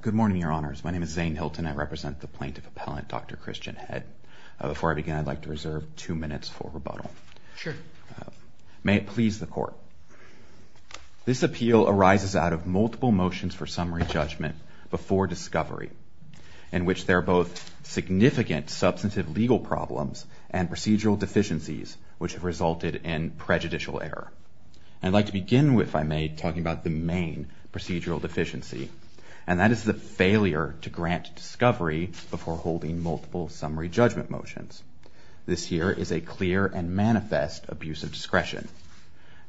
Good morning, Your Honors. My name is Zane Hilton. I represent the plaintiff appellant Dr. Christian Head. Before I begin, I'd like to reserve two minutes for rebuttal. Sure. May it please the Court. This appeal arises out of multiple motions for summary judgment before discovery in which there are both significant substantive legal problems and procedural deficiencies which have resulted in prejudicial error. I'd like to begin with, if I may, talking about the main procedural deficiency and that is the failure to grant discovery before holding multiple summary judgment motions. This here is a clear and manifest abuse of discretion.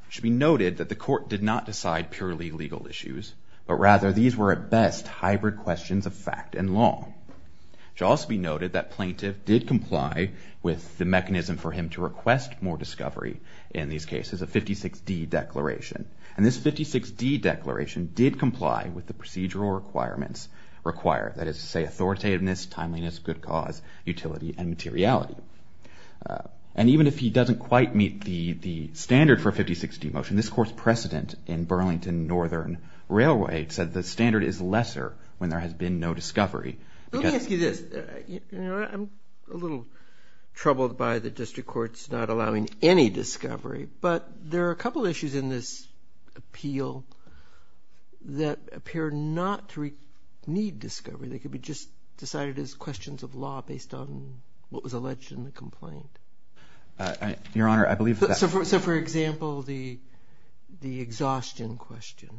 It should be noted that the Court did not decide purely legal issues, but rather these were at best hybrid questions of fact and law. It should also be noted that plaintiff did comply with the mechanism for him to request more discovery in these cases, a 56D declaration. And this 56D declaration did comply with the procedural requirements required, that is to say authoritativeness, timeliness, good cause, utility, and materiality. And even if he doesn't quite meet the standard for a 56D motion, this Court's precedent in Burlington Northern Railway said the standard is lesser when there has been no discovery. Let me ask you this. I'm a little troubled by the district courts not allowing any discovery, but there are a couple of issues in this appeal that appear not to need discovery. They could be just decided as questions of law based on what was alleged in the complaint. Your Honor, I believe that. So, for example, the exhaustion question.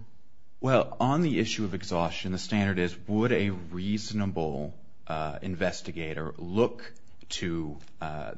Well, on the issue of exhaustion, the standard is would a reasonable investigator look to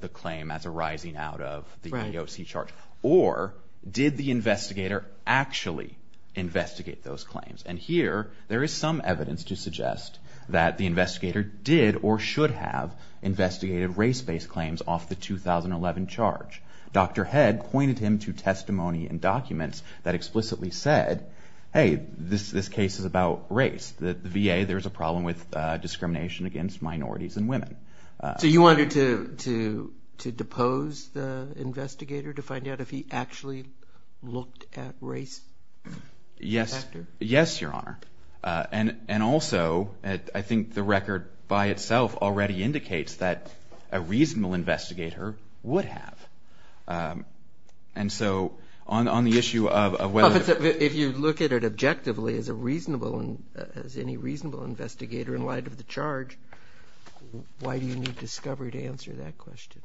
the claim as arising out of the AOC charge? Or did the investigator actually investigate those claims? And here there is some evidence to suggest that the investigator did or should have investigated race-based claims off the 2011 charge. Dr. Head pointed him to testimony and documents that explicitly said, hey, this case is about race. The VA, there is a problem with discrimination against minorities and women. So you wanted to depose the investigator to find out if he actually looked at race? Yes, Your Honor. And also, I think the record by itself already indicates that a reasonable investigator would have. And so on the issue of whether it's a… If you look at it objectively as a reasonable, as any reasonable investigator in light of the charge, why do you need discovery to answer that question?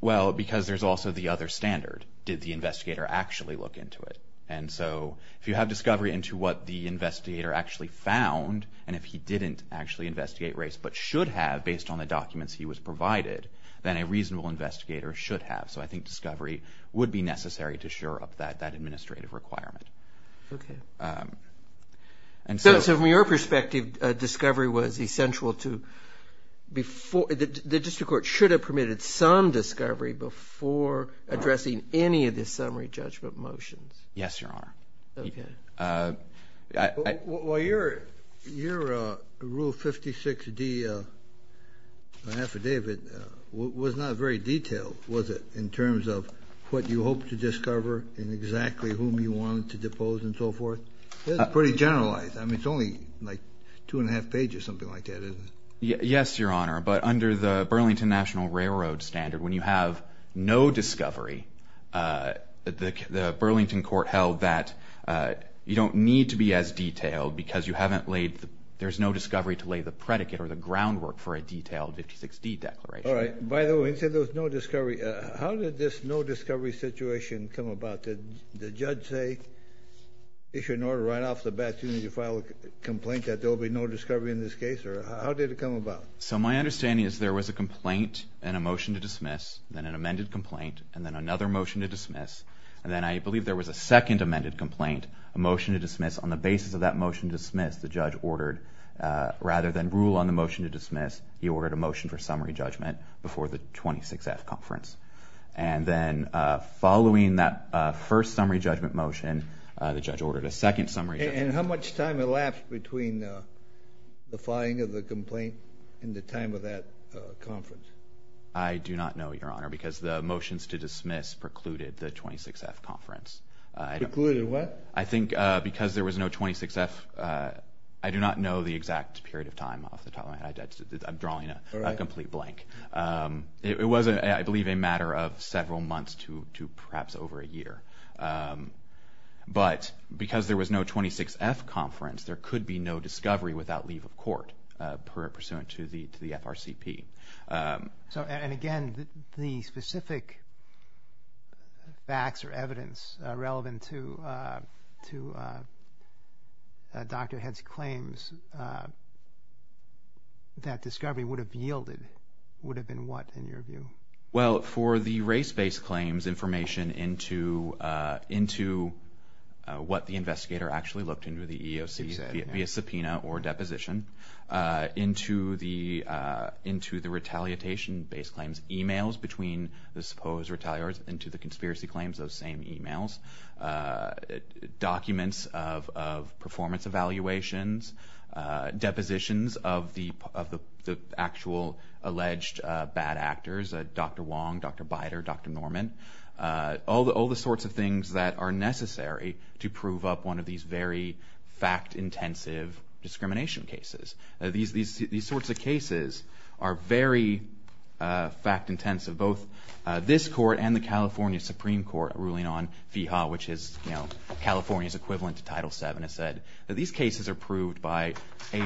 Well, because there's also the other standard. Did the investigator actually look into it? And so if you have discovery into what the investigator actually found and if he didn't actually investigate race but should have based on the documents he was provided, then a reasonable investigator should have. So I think discovery would be necessary to sure up that administrative requirement. Okay. So from your perspective, discovery was essential to… The district court should have permitted some discovery before addressing any of the summary judgment motions. Yes, Your Honor. Okay. Well, your Rule 56D affidavit was not very detailed, was it, in terms of what you hoped to discover and exactly whom you wanted to depose and so forth? It's pretty generalized. I mean, it's only like two and a half pages, something like that, isn't it? Yes, Your Honor. But under the Burlington National Railroad standard, when you have no discovery, the Burlington court held that you don't need to be as detailed because there's no discovery to lay the predicate or the groundwork for a detailed 56D declaration. All right. By the way, you said there was no discovery. How did this no discovery situation come about? Did the judge issue an order right off the bat to file a complaint that there will be no discovery in this case, or how did it come about? So my understanding is there was a complaint and a motion to dismiss, then an amended complaint, and then another motion to dismiss, and then I believe there was a second amended complaint, a motion to dismiss. On the basis of that motion to dismiss, the judge ordered, rather than rule on the motion to dismiss, he ordered a motion for summary judgment before the 26F conference. And then following that first summary judgment motion, the judge ordered a second summary judgment. And how much time elapsed between the filing of the complaint and the time of that conference? I do not know, Your Honor, because the motions to dismiss precluded the 26F conference. Precluded what? I think because there was no 26F, I do not know the exact period of time off the top of my head. I'm drawing a complete blank. It was, I believe, a matter of several months to perhaps over a year. But because there was no 26F conference, there could be no discovery without leave of court pursuant to the FRCP. And again, the specific facts or evidence relevant to Dr. Head's claims, that discovery would have yielded, would have been what in your view? Well, for the race-based claims, information into what the investigator actually looked into, the EEOC via subpoena or deposition, into the retaliation-based claims, emails between the supposed retaliators into the conspiracy claims, those same emails, documents of performance evaluations, depositions of the actual alleged bad actors, Dr. Wong, Dr. Bider, Dr. Norman, all the sorts of things that are necessary to prove up one of these very fact-intensive discrimination cases. These sorts of cases are very fact-intensive. Both this court and the California Supreme Court ruling on FIHA, which is California's equivalent to Title VII, has said that these cases are proved by a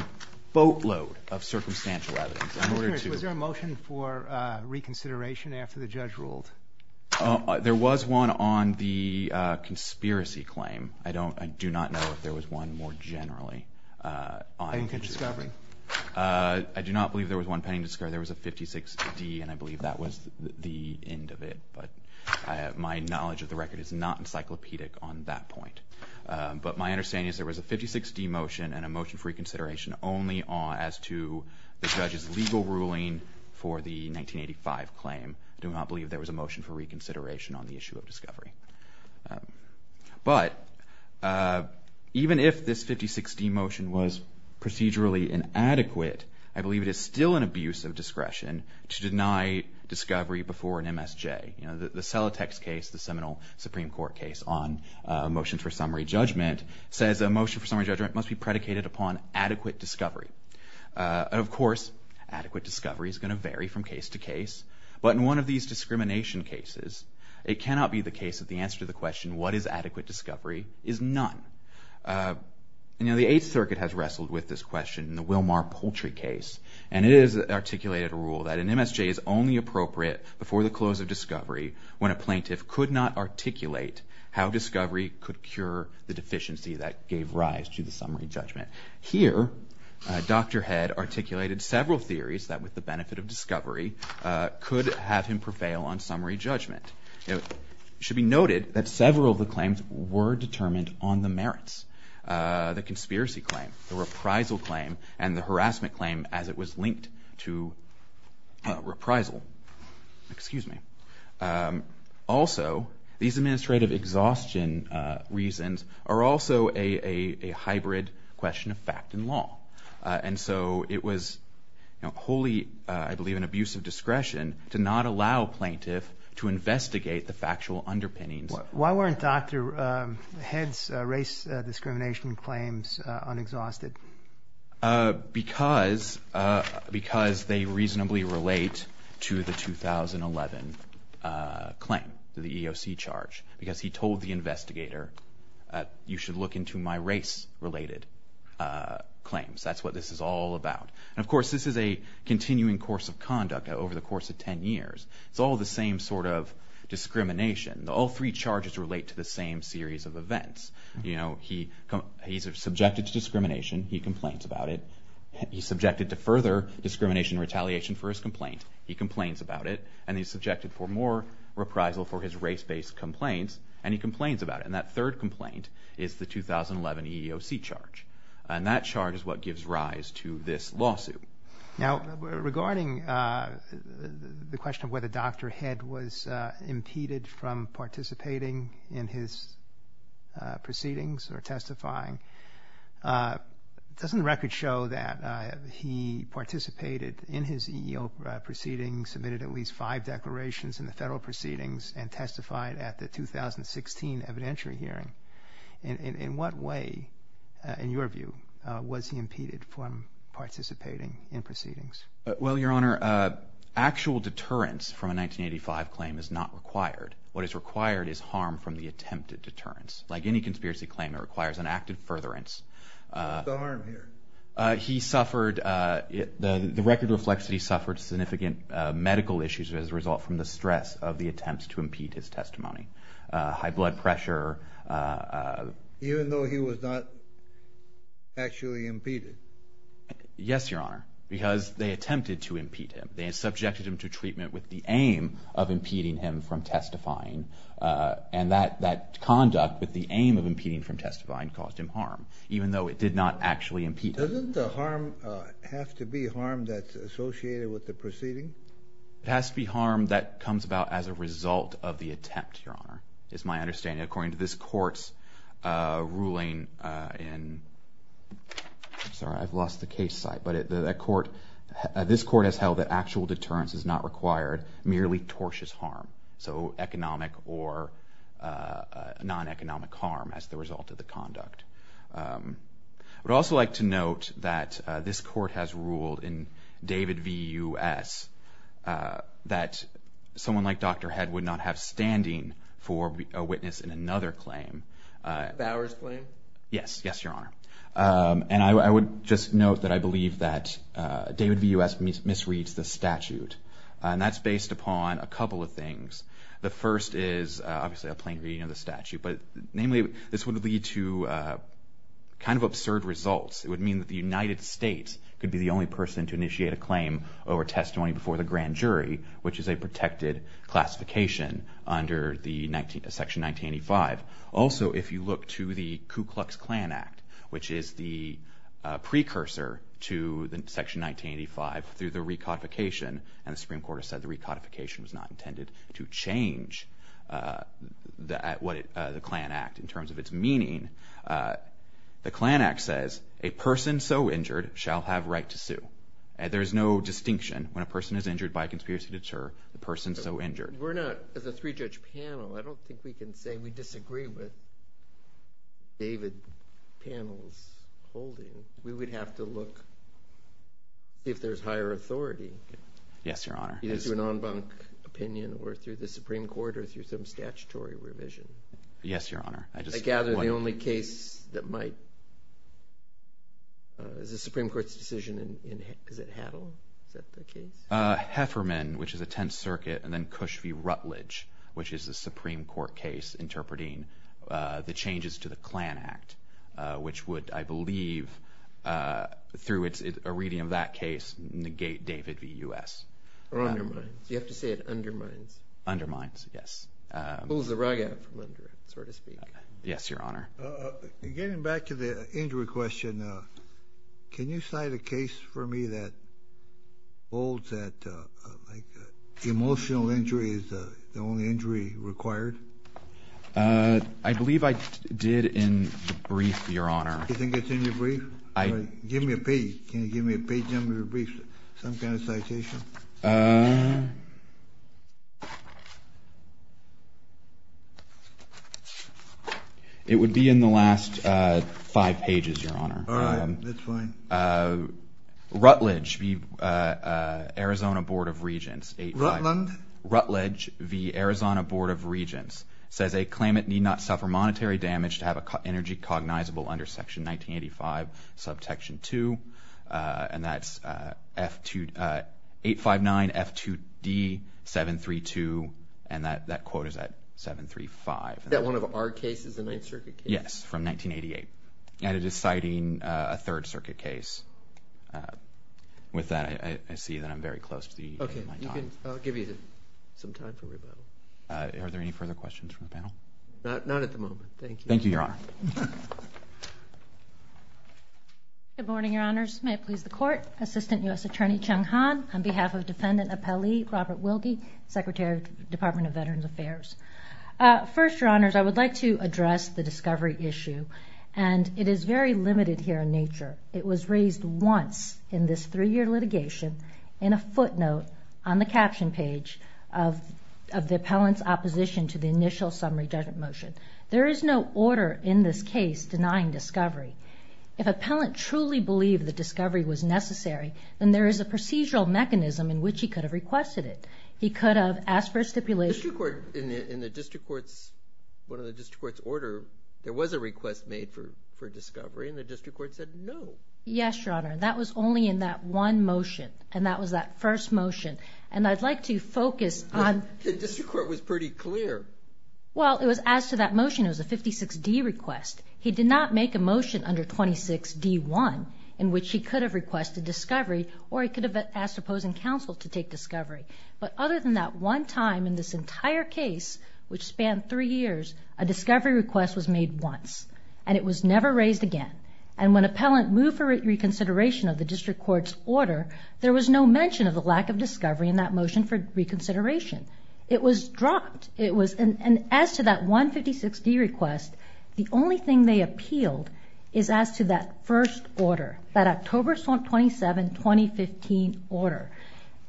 boatload of circumstantial evidence. Was there a motion for reconsideration after the judge ruled? There was one on the conspiracy claim. I do not know if there was one more generally. Pending discovery? I do not believe there was one pending discovery. There was a 56D, and I believe that was the end of it. But my knowledge of the record is not encyclopedic on that point. But my understanding is there was a 56D motion and a motion for reconsideration only as to the judge's legal ruling for the 1985 claim. I do not believe there was a motion for reconsideration on the issue of discovery. But even if this 56D motion was procedurally inadequate, I believe it is still an abuse of discretion to deny discovery before an MSJ. The Celotex case, the seminal Supreme Court case on motions for summary judgment, says a motion for summary judgment must be predicated upon adequate discovery. Of course, adequate discovery is going to vary from case to case. But in one of these discrimination cases, it cannot be the case that the answer to the question, what is adequate discovery, is none. The Eighth Circuit has wrestled with this question in the Wilmar Poultry case, and it has articulated a rule that an MSJ is only appropriate before the close of discovery when a plaintiff could not articulate how discovery could cure the deficiency that gave rise to the summary judgment. Here, Dr. Head articulated several theories that, with the benefit of discovery, could have him prevail on summary judgment. It should be noted that several of the claims were determined on the merits. The conspiracy claim, the reprisal claim, and the harassment claim as it was linked to reprisal. Excuse me. Also, these administrative exhaustion reasons are also a hybrid question of fact and law. And so it was wholly, I believe, an abuse of discretion to not allow plaintiff to investigate the factual underpinnings. Why weren't Dr. Head's race discrimination claims unexhausted? Because they reasonably relate to the 2011 claim, to the EEOC charge, because he told the investigator, you should look into my race-related claims. That's what this is all about. And, of course, this is a continuing course of conduct over the course of 10 years. It's all the same sort of discrimination. All three charges relate to the same series of events. He's subjected to discrimination. He complains about it. He's subjected to further discrimination and retaliation for his complaint. He complains about it. And he's subjected for more reprisal for his race-based complaints. And he complains about it. And that third complaint is the 2011 EEOC charge. And that charge is what gives rise to this lawsuit. Now, regarding the question of whether Dr. Head was impeded from participating in his proceedings or testifying, doesn't the record show that he participated in his EEOC proceedings, submitted at least five declarations in the federal proceedings, and testified at the 2016 evidentiary hearing? In what way, in your view, was he impeded from participating in proceedings? Well, Your Honor, actual deterrence from a 1985 claim is not required. What is required is harm from the attempted deterrence. Like any conspiracy claim, it requires an active furtherance. What's the harm here? He suffered the record reflects that he suffered significant medical issues as a result from the stress of the attempts to impede his testimony. High blood pressure. Even though he was not actually impeded? Yes, Your Honor, because they attempted to impede him. They subjected him to treatment with the aim of impeding him from testifying. And that conduct with the aim of impeding from testifying caused him harm, even though it did not actually impede him. Doesn't the harm have to be harm that's associated with the proceeding? It has to be harm that comes about as a result of the attempt, Your Honor. It's my understanding, according to this court's ruling in— I'm sorry, I've lost the case site. But this court has held that actual deterrence is not required, merely tortious harm. So economic or non-economic harm as the result of the conduct. I would also like to note that this court has ruled in David v. U.S. that someone like Dr. Head would not have standing for a witness in another claim. Bower's claim? Yes, yes, Your Honor. And I would just note that I believe that David v. U.S. misreads the statute. And that's based upon a couple of things. The first is obviously a plain reading of the statute. But, namely, this would lead to kind of absurd results. It would mean that the United States could be the only person to initiate a claim over testimony before the grand jury, which is a protected classification under Section 1985. Also, if you look to the Ku Klux Klan Act, which is the precursor to Section 1985 through the recodification, and the Supreme Court has said the recodification was not intended to change the Klan Act in terms of its meaning, the Klan Act says a person so injured shall have right to sue. There is no distinction when a person is injured by a conspiracy to deter the person so injured. We're not, as a three-judge panel, I don't think we can say we disagree with David's panel's holding. We would have to look if there's higher authority. Yes, Your Honor. Either through an en banc opinion or through the Supreme Court or through some statutory revision. Yes, Your Honor. I gather the only case that might, is the Supreme Court's decision in, is it Haddle? Is that the case? Hefferman, which is a Tenth Circuit, and then Cush v. Rutledge, which is the Supreme Court case interpreting the changes to the Klan Act, which would, I believe, through a reading of that case, negate David v. U.S. Or undermine. You have to say it undermines. Undermines, yes. Pulls the rug out from under it, so to speak. Yes, Your Honor. Getting back to the injury question, can you cite a case for me that holds that emotional injury is the only injury required? I believe I did in the brief, Your Honor. You think it's in your brief? Give me a page. Can you give me a page and give me a brief, some kind of citation? It would be in the last five pages, Your Honor. All right, that's fine. Rutledge v. Arizona Board of Regents. Rutland? Ruth Rutledge v. Arizona Board of Regents says a claimant need not suffer monetary damage to have an energy cognizable under Section 1985, Subsection 2, and that's 859F2D732, and that quote is at 735. Is that one of our cases, the Ninth Circuit case? Yes, from 1988, and it is citing a Third Circuit case. With that, I see that I'm very close to the end of my time. I'll give you some time for rebuttal. Are there any further questions from the panel? Not at the moment, thank you. Thank you, Your Honor. Good morning, Your Honors. May it please the Court. Assistant U.S. Attorney Chung Han on behalf of Defendant Appellee Robert Wilkie, Secretary of the Department of Veterans Affairs. First, Your Honors, I would like to address the discovery issue, and it is very limited here in nature. It was raised once in this three-year litigation in a footnote on the caption page of the appellant's opposition to the initial summary judgment motion. There is no order in this case denying discovery. If an appellant truly believed that discovery was necessary, then there is a procedural mechanism in which he could have requested it. He could have asked for a stipulation. In the district court's order, there was a request made for discovery, and the district court said no. Yes, Your Honor. That was only in that one motion, and that was that first motion. And I'd like to focus on – The district court was pretty clear. Well, it was as to that motion, it was a 56D request. He did not make a motion under 26D1 in which he could have requested discovery or he could have asked opposing counsel to take discovery. But other than that one time in this entire case, which spanned three years, a discovery request was made once, and it was never raised again. And when appellant moved for reconsideration of the district court's order, there was no mention of the lack of discovery in that motion for reconsideration. It was dropped. And as to that 156D request, the only thing they appealed is as to that first order, that October 27, 2015 order.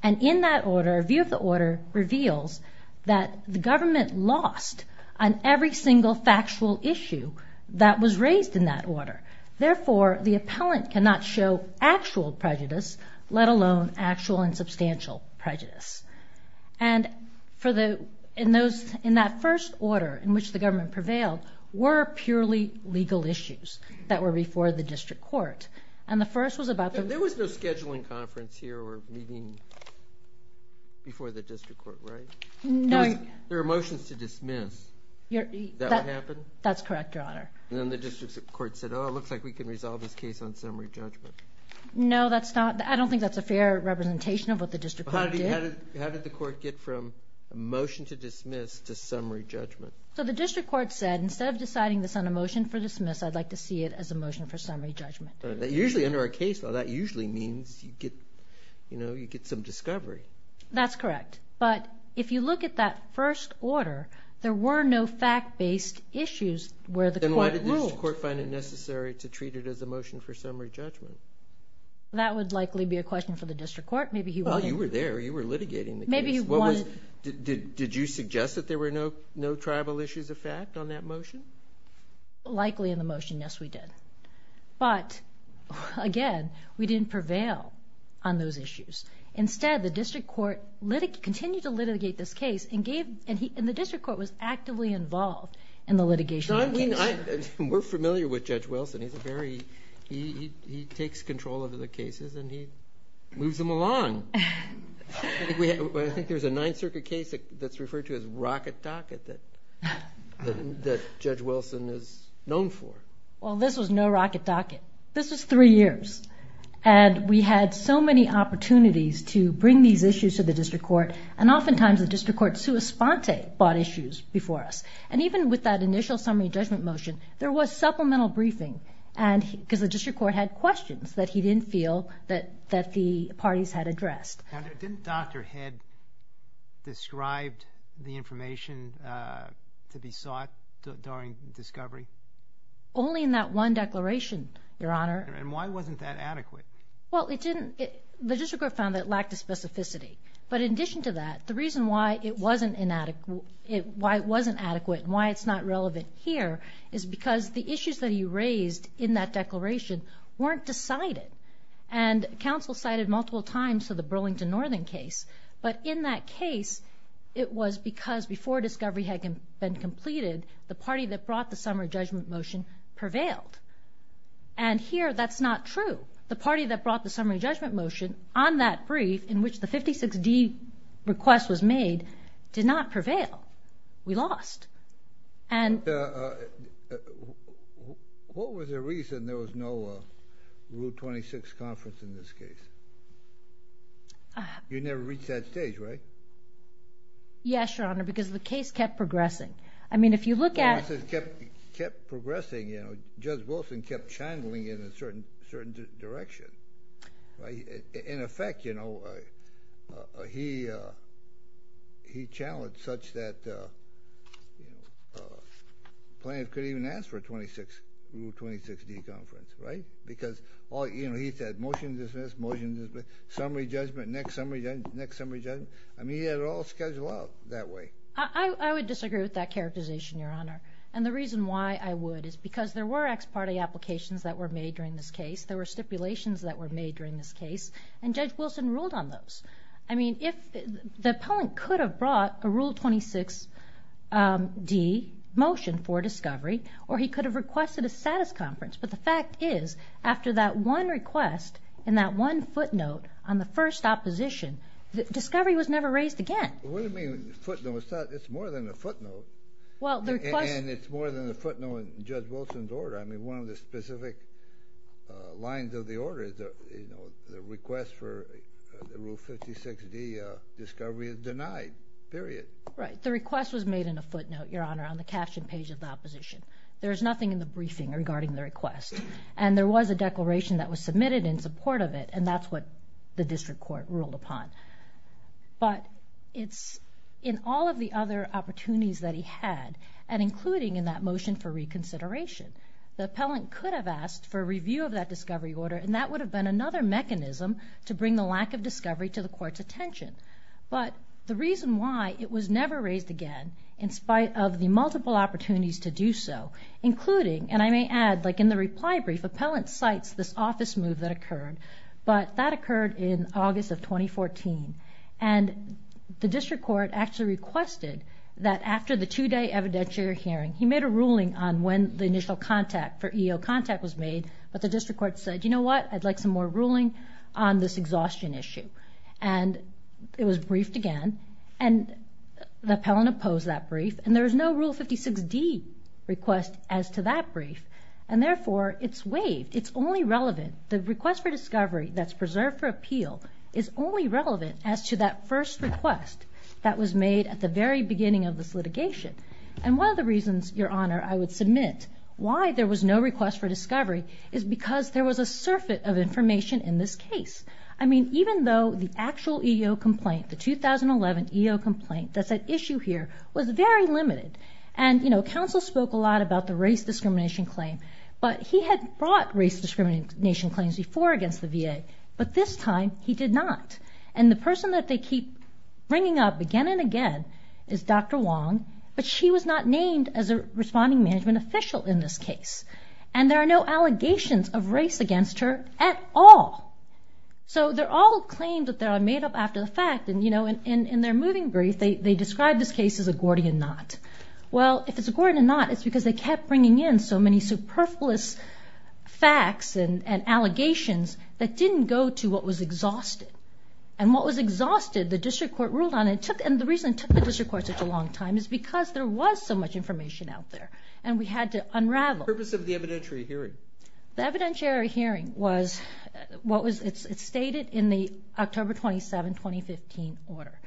And in that order, a review of the order reveals that the government lost on every single factual issue that was raised in that order. Therefore, the appellant cannot show actual prejudice, let alone actual and substantial prejudice. And in that first order in which the government prevailed, were purely legal issues that were before the district court. And the first was about the – There were motions here or meeting before the district court, right? No. There were motions to dismiss. That would happen? That's correct, Your Honor. And then the district court said, oh, it looks like we can resolve this case on summary judgment. No, that's not – I don't think that's a fair representation of what the district court did. How did the court get from a motion to dismiss to summary judgment? So the district court said, instead of deciding this on a motion for dismiss, I'd like to see it as a motion for summary judgment. Usually under a case law, that usually means you get some discovery. That's correct. But if you look at that first order, there were no fact-based issues where the court ruled. Then why did the district court find it necessary to treat it as a motion for summary judgment? That would likely be a question for the district court. Well, you were there. You were litigating the case. Maybe you wanted – Did you suggest that there were no tribal issues of fact on that motion? Likely in the motion, yes, we did. But, again, we didn't prevail on those issues. Instead, the district court continued to litigate this case and gave – and the district court was actively involved in the litigation of the case. We're familiar with Judge Wilson. He's a very – he takes control of the cases and he moves them along. I think there's a Ninth Circuit case that's referred to as Rocket Docket that Judge Wilson is known for. Well, this was no Rocket Docket. This was three years. And we had so many opportunities to bring these issues to the district court, and oftentimes the district court sua sponte bought issues before us. And even with that initial summary judgment motion, there was supplemental briefing because the district court had questions that he didn't feel that the parties had addressed. Didn't Dr. Head describe the information to be sought during discovery? Only in that one declaration, Your Honor. And why wasn't that adequate? Well, it didn't – the district court found that it lacked a specificity. But in addition to that, the reason why it wasn't adequate and why it's not relevant here is because the issues that he raised in that declaration weren't decided. And counsel cited multiple times to the Burlington Northern case. But in that case, it was because before discovery had been completed, the party that brought the summary judgment motion prevailed. And here that's not true. The party that brought the summary judgment motion on that brief in which the 56D request was made did not prevail. We lost. And what was the reason there was no Rule 26 conference in this case? You never reached that stage, right? Yes, Your Honor, because the case kept progressing. I mean, if you look at – The case kept progressing. Judge Wilson kept channeling in a certain direction. In effect, you know, he channeled such that plaintiff couldn't even ask for a 26 – Rule 26D conference, right? Because, you know, he said motion to dismiss, motion to dismiss, summary judgment, next summary judgment, next summary judgment. I mean, he had it all scheduled out that way. I would disagree with that characterization, Your Honor. And the reason why I would is because there were ex parte applications that were made during this case. There were stipulations that were made during this case, and Judge Wilson ruled on those. I mean, the appellant could have brought a Rule 26D motion for discovery or he could have requested a status conference. But the fact is, after that one request and that one footnote on the first opposition, discovery was never raised again. What do you mean footnote? It's more than a footnote. And it's more than a footnote in Judge Wilson's order. I mean, one of the specific lines of the order, you know, the request for the Rule 56D discovery is denied, period. Right. The request was made in a footnote, Your Honor, on the caption page of the opposition. There is nothing in the briefing regarding the request. And there was a declaration that was submitted in support of it, and that's what the district court ruled upon. But it's in all of the other opportunities that he had, and including in that motion for reconsideration. The appellant could have asked for a review of that discovery order, and that would have been another mechanism to bring the lack of discovery to the Court's attention. But the reason why it was never raised again, in spite of the multiple opportunities to do so, including, and I may add, like in the reply brief, appellant cites this office move that occurred, but that occurred in August of 2014. And the district court actually requested that, after the two-day evidentiary hearing, he made a ruling on when the initial contact for EO contact was made, but the district court said, you know what, I'd like some more ruling on this exhaustion issue. And it was briefed again, and the appellant opposed that brief, and there was no Rule 56D request as to that brief. And therefore, it's waived. It's only relevant, the request for discovery that's preserved for appeal is only relevant as to that first request that was made at the very beginning of this litigation. And one of the reasons, Your Honor, I would submit, why there was no request for discovery is because there was a surfeit of information in this case. I mean, even though the actual EO complaint, the 2011 EO complaint, that's at issue here, was very limited. And, you know, counsel spoke a lot about the race discrimination claim, but he had brought race discrimination claims before against the VA, but this time he did not. And the person that they keep bringing up again and again is Dr. Wong, but she was not named as a responding management official in this case. And there are no allegations of race against her at all. So they're all claims that they're made up after the fact, and, you know, in their moving brief, they describe this case as a Gordian knot. Well, if it's a Gordian knot, it's because they kept bringing in so many superfluous facts and allegations that didn't go to what was exhausted. And what was exhausted, the district court ruled on it, and the reason it took the district court such a long time is because there was so much information out there, and we had to unravel. The purpose of the evidentiary hearing? The evidentiary hearing was what was stated in the October 27, 2015 order.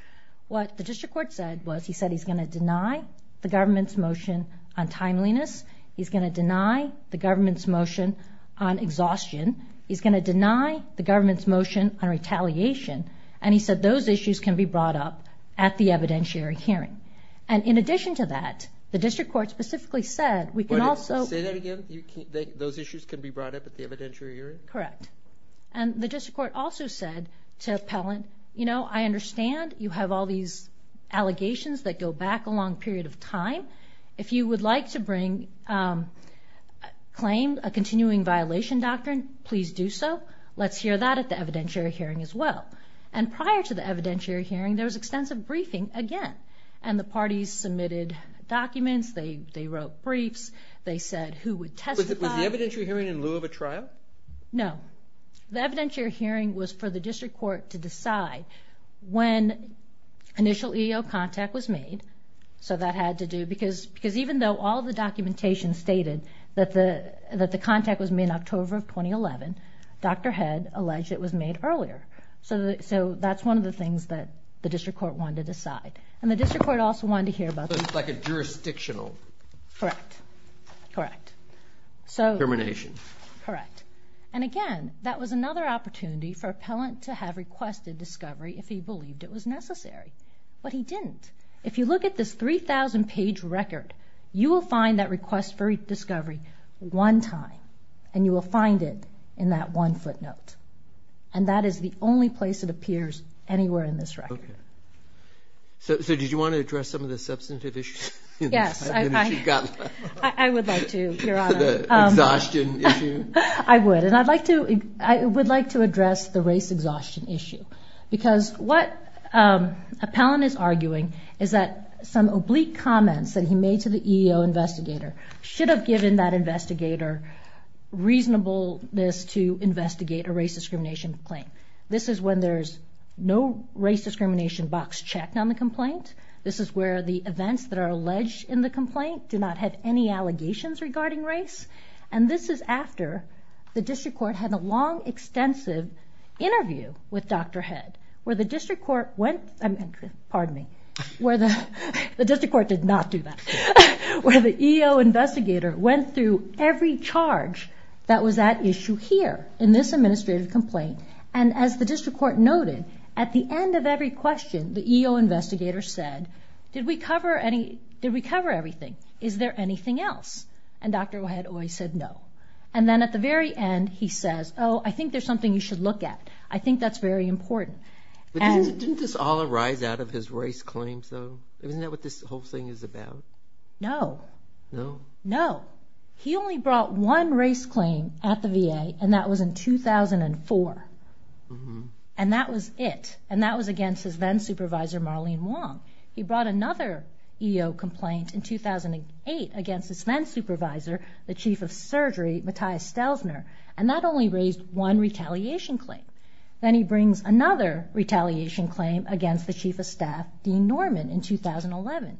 What the district court said was he said he's going to deny the government's motion on timeliness, he's going to deny the government's motion on exhaustion, he's going to deny the government's motion on retaliation, and he said those issues can be brought up at the evidentiary hearing. And in addition to that, the district court specifically said we can also— Say that again? Those issues can be brought up at the evidentiary hearing? Correct. And the district court also said to Pellant, you know, I understand you have all these allegations that go back a long period of time. If you would like to bring—claim a continuing violation doctrine, please do so. Let's hear that at the evidentiary hearing as well. And prior to the evidentiary hearing, there was extensive briefing again, and the parties submitted documents, they wrote briefs, they said who would testify. Was the evidentiary hearing in lieu of a trial? No. The evidentiary hearing was for the district court to decide when initial EEO contact was made. So that had to do—because even though all the documentation stated that the contact was made in October of 2011, Dr. Head alleged it was made earlier. So that's one of the things that the district court wanted to decide. And the district court also wanted to hear about— Like a jurisdictional— Correct. Correct. Termination. Correct. And again, that was another opportunity for Pellant to have requested discovery if he believed it was necessary. But he didn't. If you look at this 3,000-page record, you will find that request for discovery one time, and you will find it in that one footnote. And that is the only place it appears anywhere in this record. Okay. So did you want to address some of the substantive issues? Yes. I would like to, Your Honor. The exhaustion issue? I would. And I would like to address the race exhaustion issue. Because what Pellant is arguing is that some oblique comments that he made to the EEO investigator should have given that investigator reasonableness to investigate a race discrimination claim. This is when there's no race discrimination box checked on the complaint. This is where the events that are alleged in the complaint do not have any allegations regarding race. And this is after the district court had a long, extensive interview with Dr. Head, where the district court went through every charge that was at issue here in this administrative complaint. And as the district court noted, at the end of every question the EEO investigator said, did we cover everything? Is there anything else? And Dr. Head always said no. And then at the very end he says, oh, I think there's something you should look at. I think that's very important. Didn't this all arise out of his race claims, though? Isn't that what this whole thing is about? No. No? No. He only brought one race claim at the VA, and that was in 2004. And that was it. And that was against his then-supervisor, Marlene Wong. He brought another EEO complaint in 2008 against his then-supervisor, the chief of surgery, Matthias Stelsner. And that only raised one retaliation claim. Then he brings another retaliation claim against the chief of staff, Dean Norman, in 2011.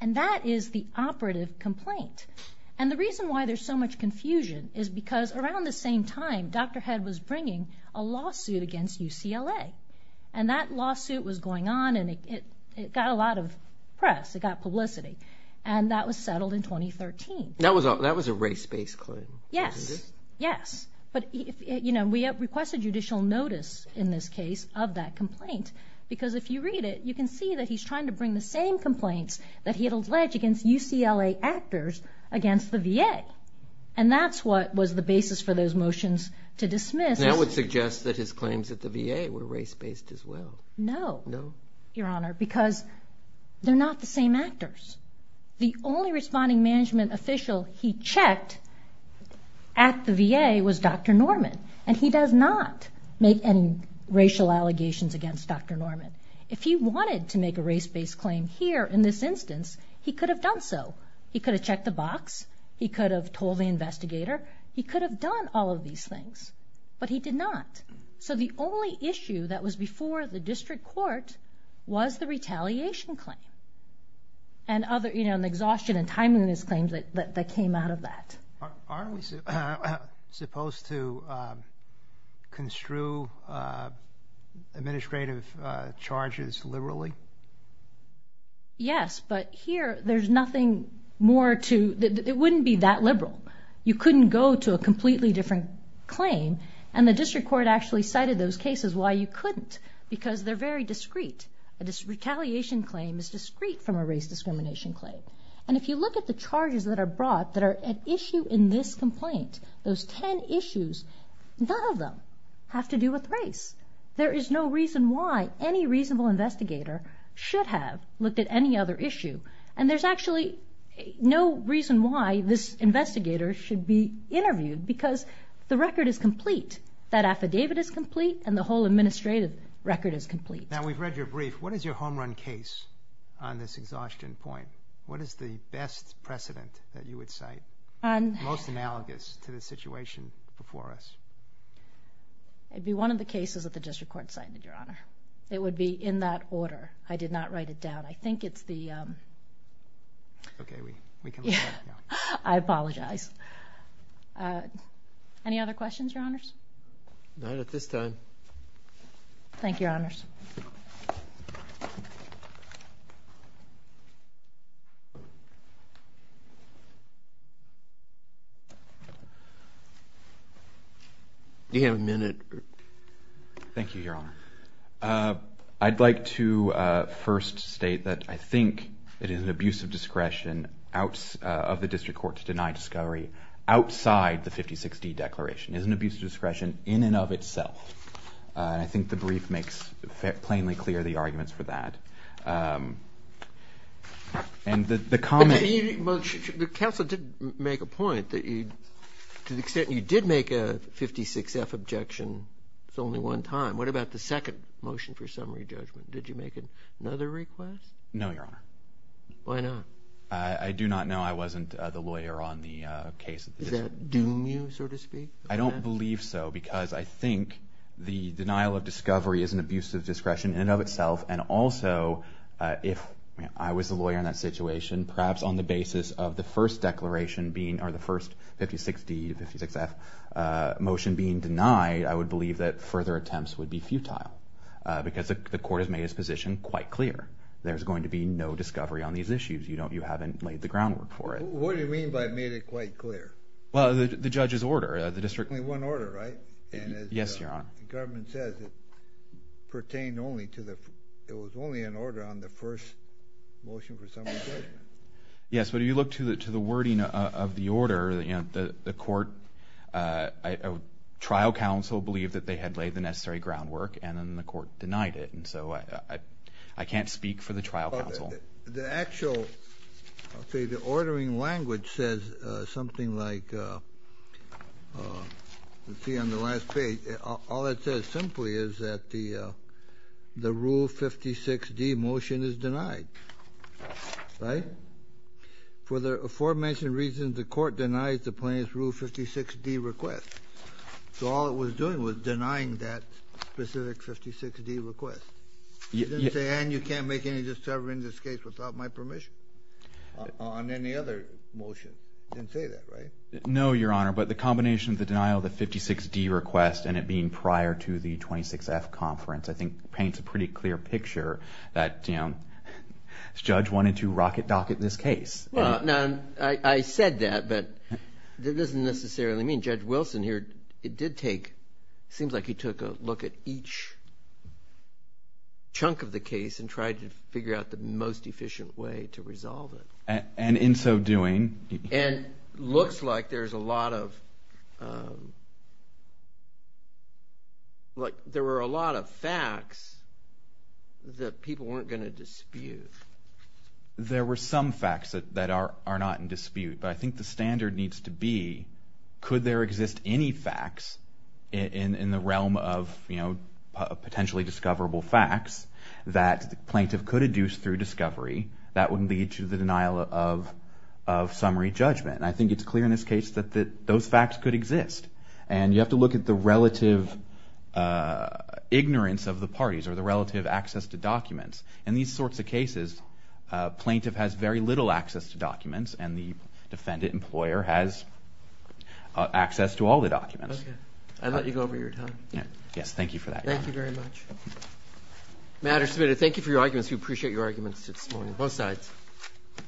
And that is the operative complaint. And the reason why there's so much confusion is because around the same time, Dr. Head was bringing a lawsuit against UCLA. And that lawsuit was going on, and it got a lot of press. It got publicity. And that was settled in 2013. That was a race-based claim. Yes. Yes. But, you know, we have requested judicial notice, in this case, of that complaint. Because if you read it, you can see that he's trying to bring the same complaints that he had alleged against UCLA actors against the VA. And that's what was the basis for those motions to dismiss. That would suggest that his claims at the VA were race-based as well. No. No? Your Honor, because they're not the same actors. The only responding management official he checked at the VA was Dr. Norman. And he does not make any racial allegations against Dr. Norman. If he wanted to make a race-based claim here in this instance, he could have done so. He could have checked the box. He could have told the investigator. He could have done all of these things. But he did not. So the only issue that was before the district court was the retaliation claim. And other exhaustion and timeliness claims that came out of that. Aren't we supposed to construe administrative charges liberally? Yes. But here, there's nothing more to—it wouldn't be that liberal. You couldn't go to a completely different claim. And the district court actually cited those cases why you couldn't. Because they're very discreet. A retaliation claim is discreet from a race discrimination claim. And if you look at the charges that are brought that are at issue in this complaint, those 10 issues, none of them have to do with race. There is no reason why any reasonable investigator should have looked at any other issue. And there's actually no reason why this investigator should be interviewed because the record is complete. That affidavit is complete, and the whole administrative record is complete. Now, we've read your brief. What is your home run case on this exhaustion point? What is the best precedent that you would cite? Most analogous to the situation before us. It would be one of the cases that the district court cited, Your Honor. It would be in that order. I did not write it down. I think it's the— Okay, we can let that go. I apologize. Any other questions, Your Honors? Not at this time. Thank you, Your Honors. Do you have a minute? Thank you, Your Honor. I'd like to first state that I think it is an abuse of discretion of the district court to deny discovery outside the 56D declaration. It is an abuse of discretion in and of itself. And I think the brief makes plainly clear the arguments for that. And the comment— The counsel did make a point that to the extent you did make a 56F objection, it's only one time. What about the second motion for summary judgment? Did you make another request? No, Your Honor. Why not? I do not know. I wasn't the lawyer on the case. Does that doom you, so to speak? I don't believe so because I think the denial of discovery is an abuse of discretion in and of itself. And also, if I was the lawyer in that situation, perhaps on the basis of the first declaration being— or the first 56D to 56F motion being denied, I would believe that further attempts would be futile because the court has made its position quite clear. There's going to be no discovery on these issues. You haven't laid the groundwork for it. What do you mean by made it quite clear? Well, the judge's order. There's only one order, right? Yes, Your Honor. And as the government says, it pertained only to the— it was only an order on the first motion for summary judgment. Yes, but if you look to the wording of the order, the court— trial counsel believed that they had laid the necessary groundwork, and then the court denied it. And so I can't speak for the trial counsel. The actual—I'll tell you, the ordering language says something like—let's see on the last page. All it says simply is that the Rule 56D motion is denied, right? For the aforementioned reasons, the court denies the plaintiff's Rule 56D request. So all it was doing was denying that specific 56D request. You didn't say, Ann, you can't make any discovery in this case without my permission on any other motion. You didn't say that, right? No, Your Honor, but the combination of the denial of the 56D request and it being prior to the 26F conference, I think paints a pretty clear picture that the judge wanted to rocket dock at this case. Well, now, I said that, but that doesn't necessarily mean Judge Wilson here did take— took a chunk of the case and tried to figure out the most efficient way to resolve it. And in so doing— And looks like there's a lot of— like there were a lot of facts that people weren't going to dispute. There were some facts that are not in dispute, but I think the standard needs to be, could there exist any facts in the realm of, you know, potentially discoverable facts that the plaintiff could induce through discovery that would lead to the denial of summary judgment? And I think it's clear in this case that those facts could exist. And you have to look at the relative ignorance of the parties or the relative access to documents. In these sorts of cases, a plaintiff has very little access to documents and the defendant employer has access to all the documents. Okay. I'll let you go over your time. Yes, thank you for that comment. Thank you very much. Matters submitted, thank you for your arguments. We appreciate your arguments this morning on both sides.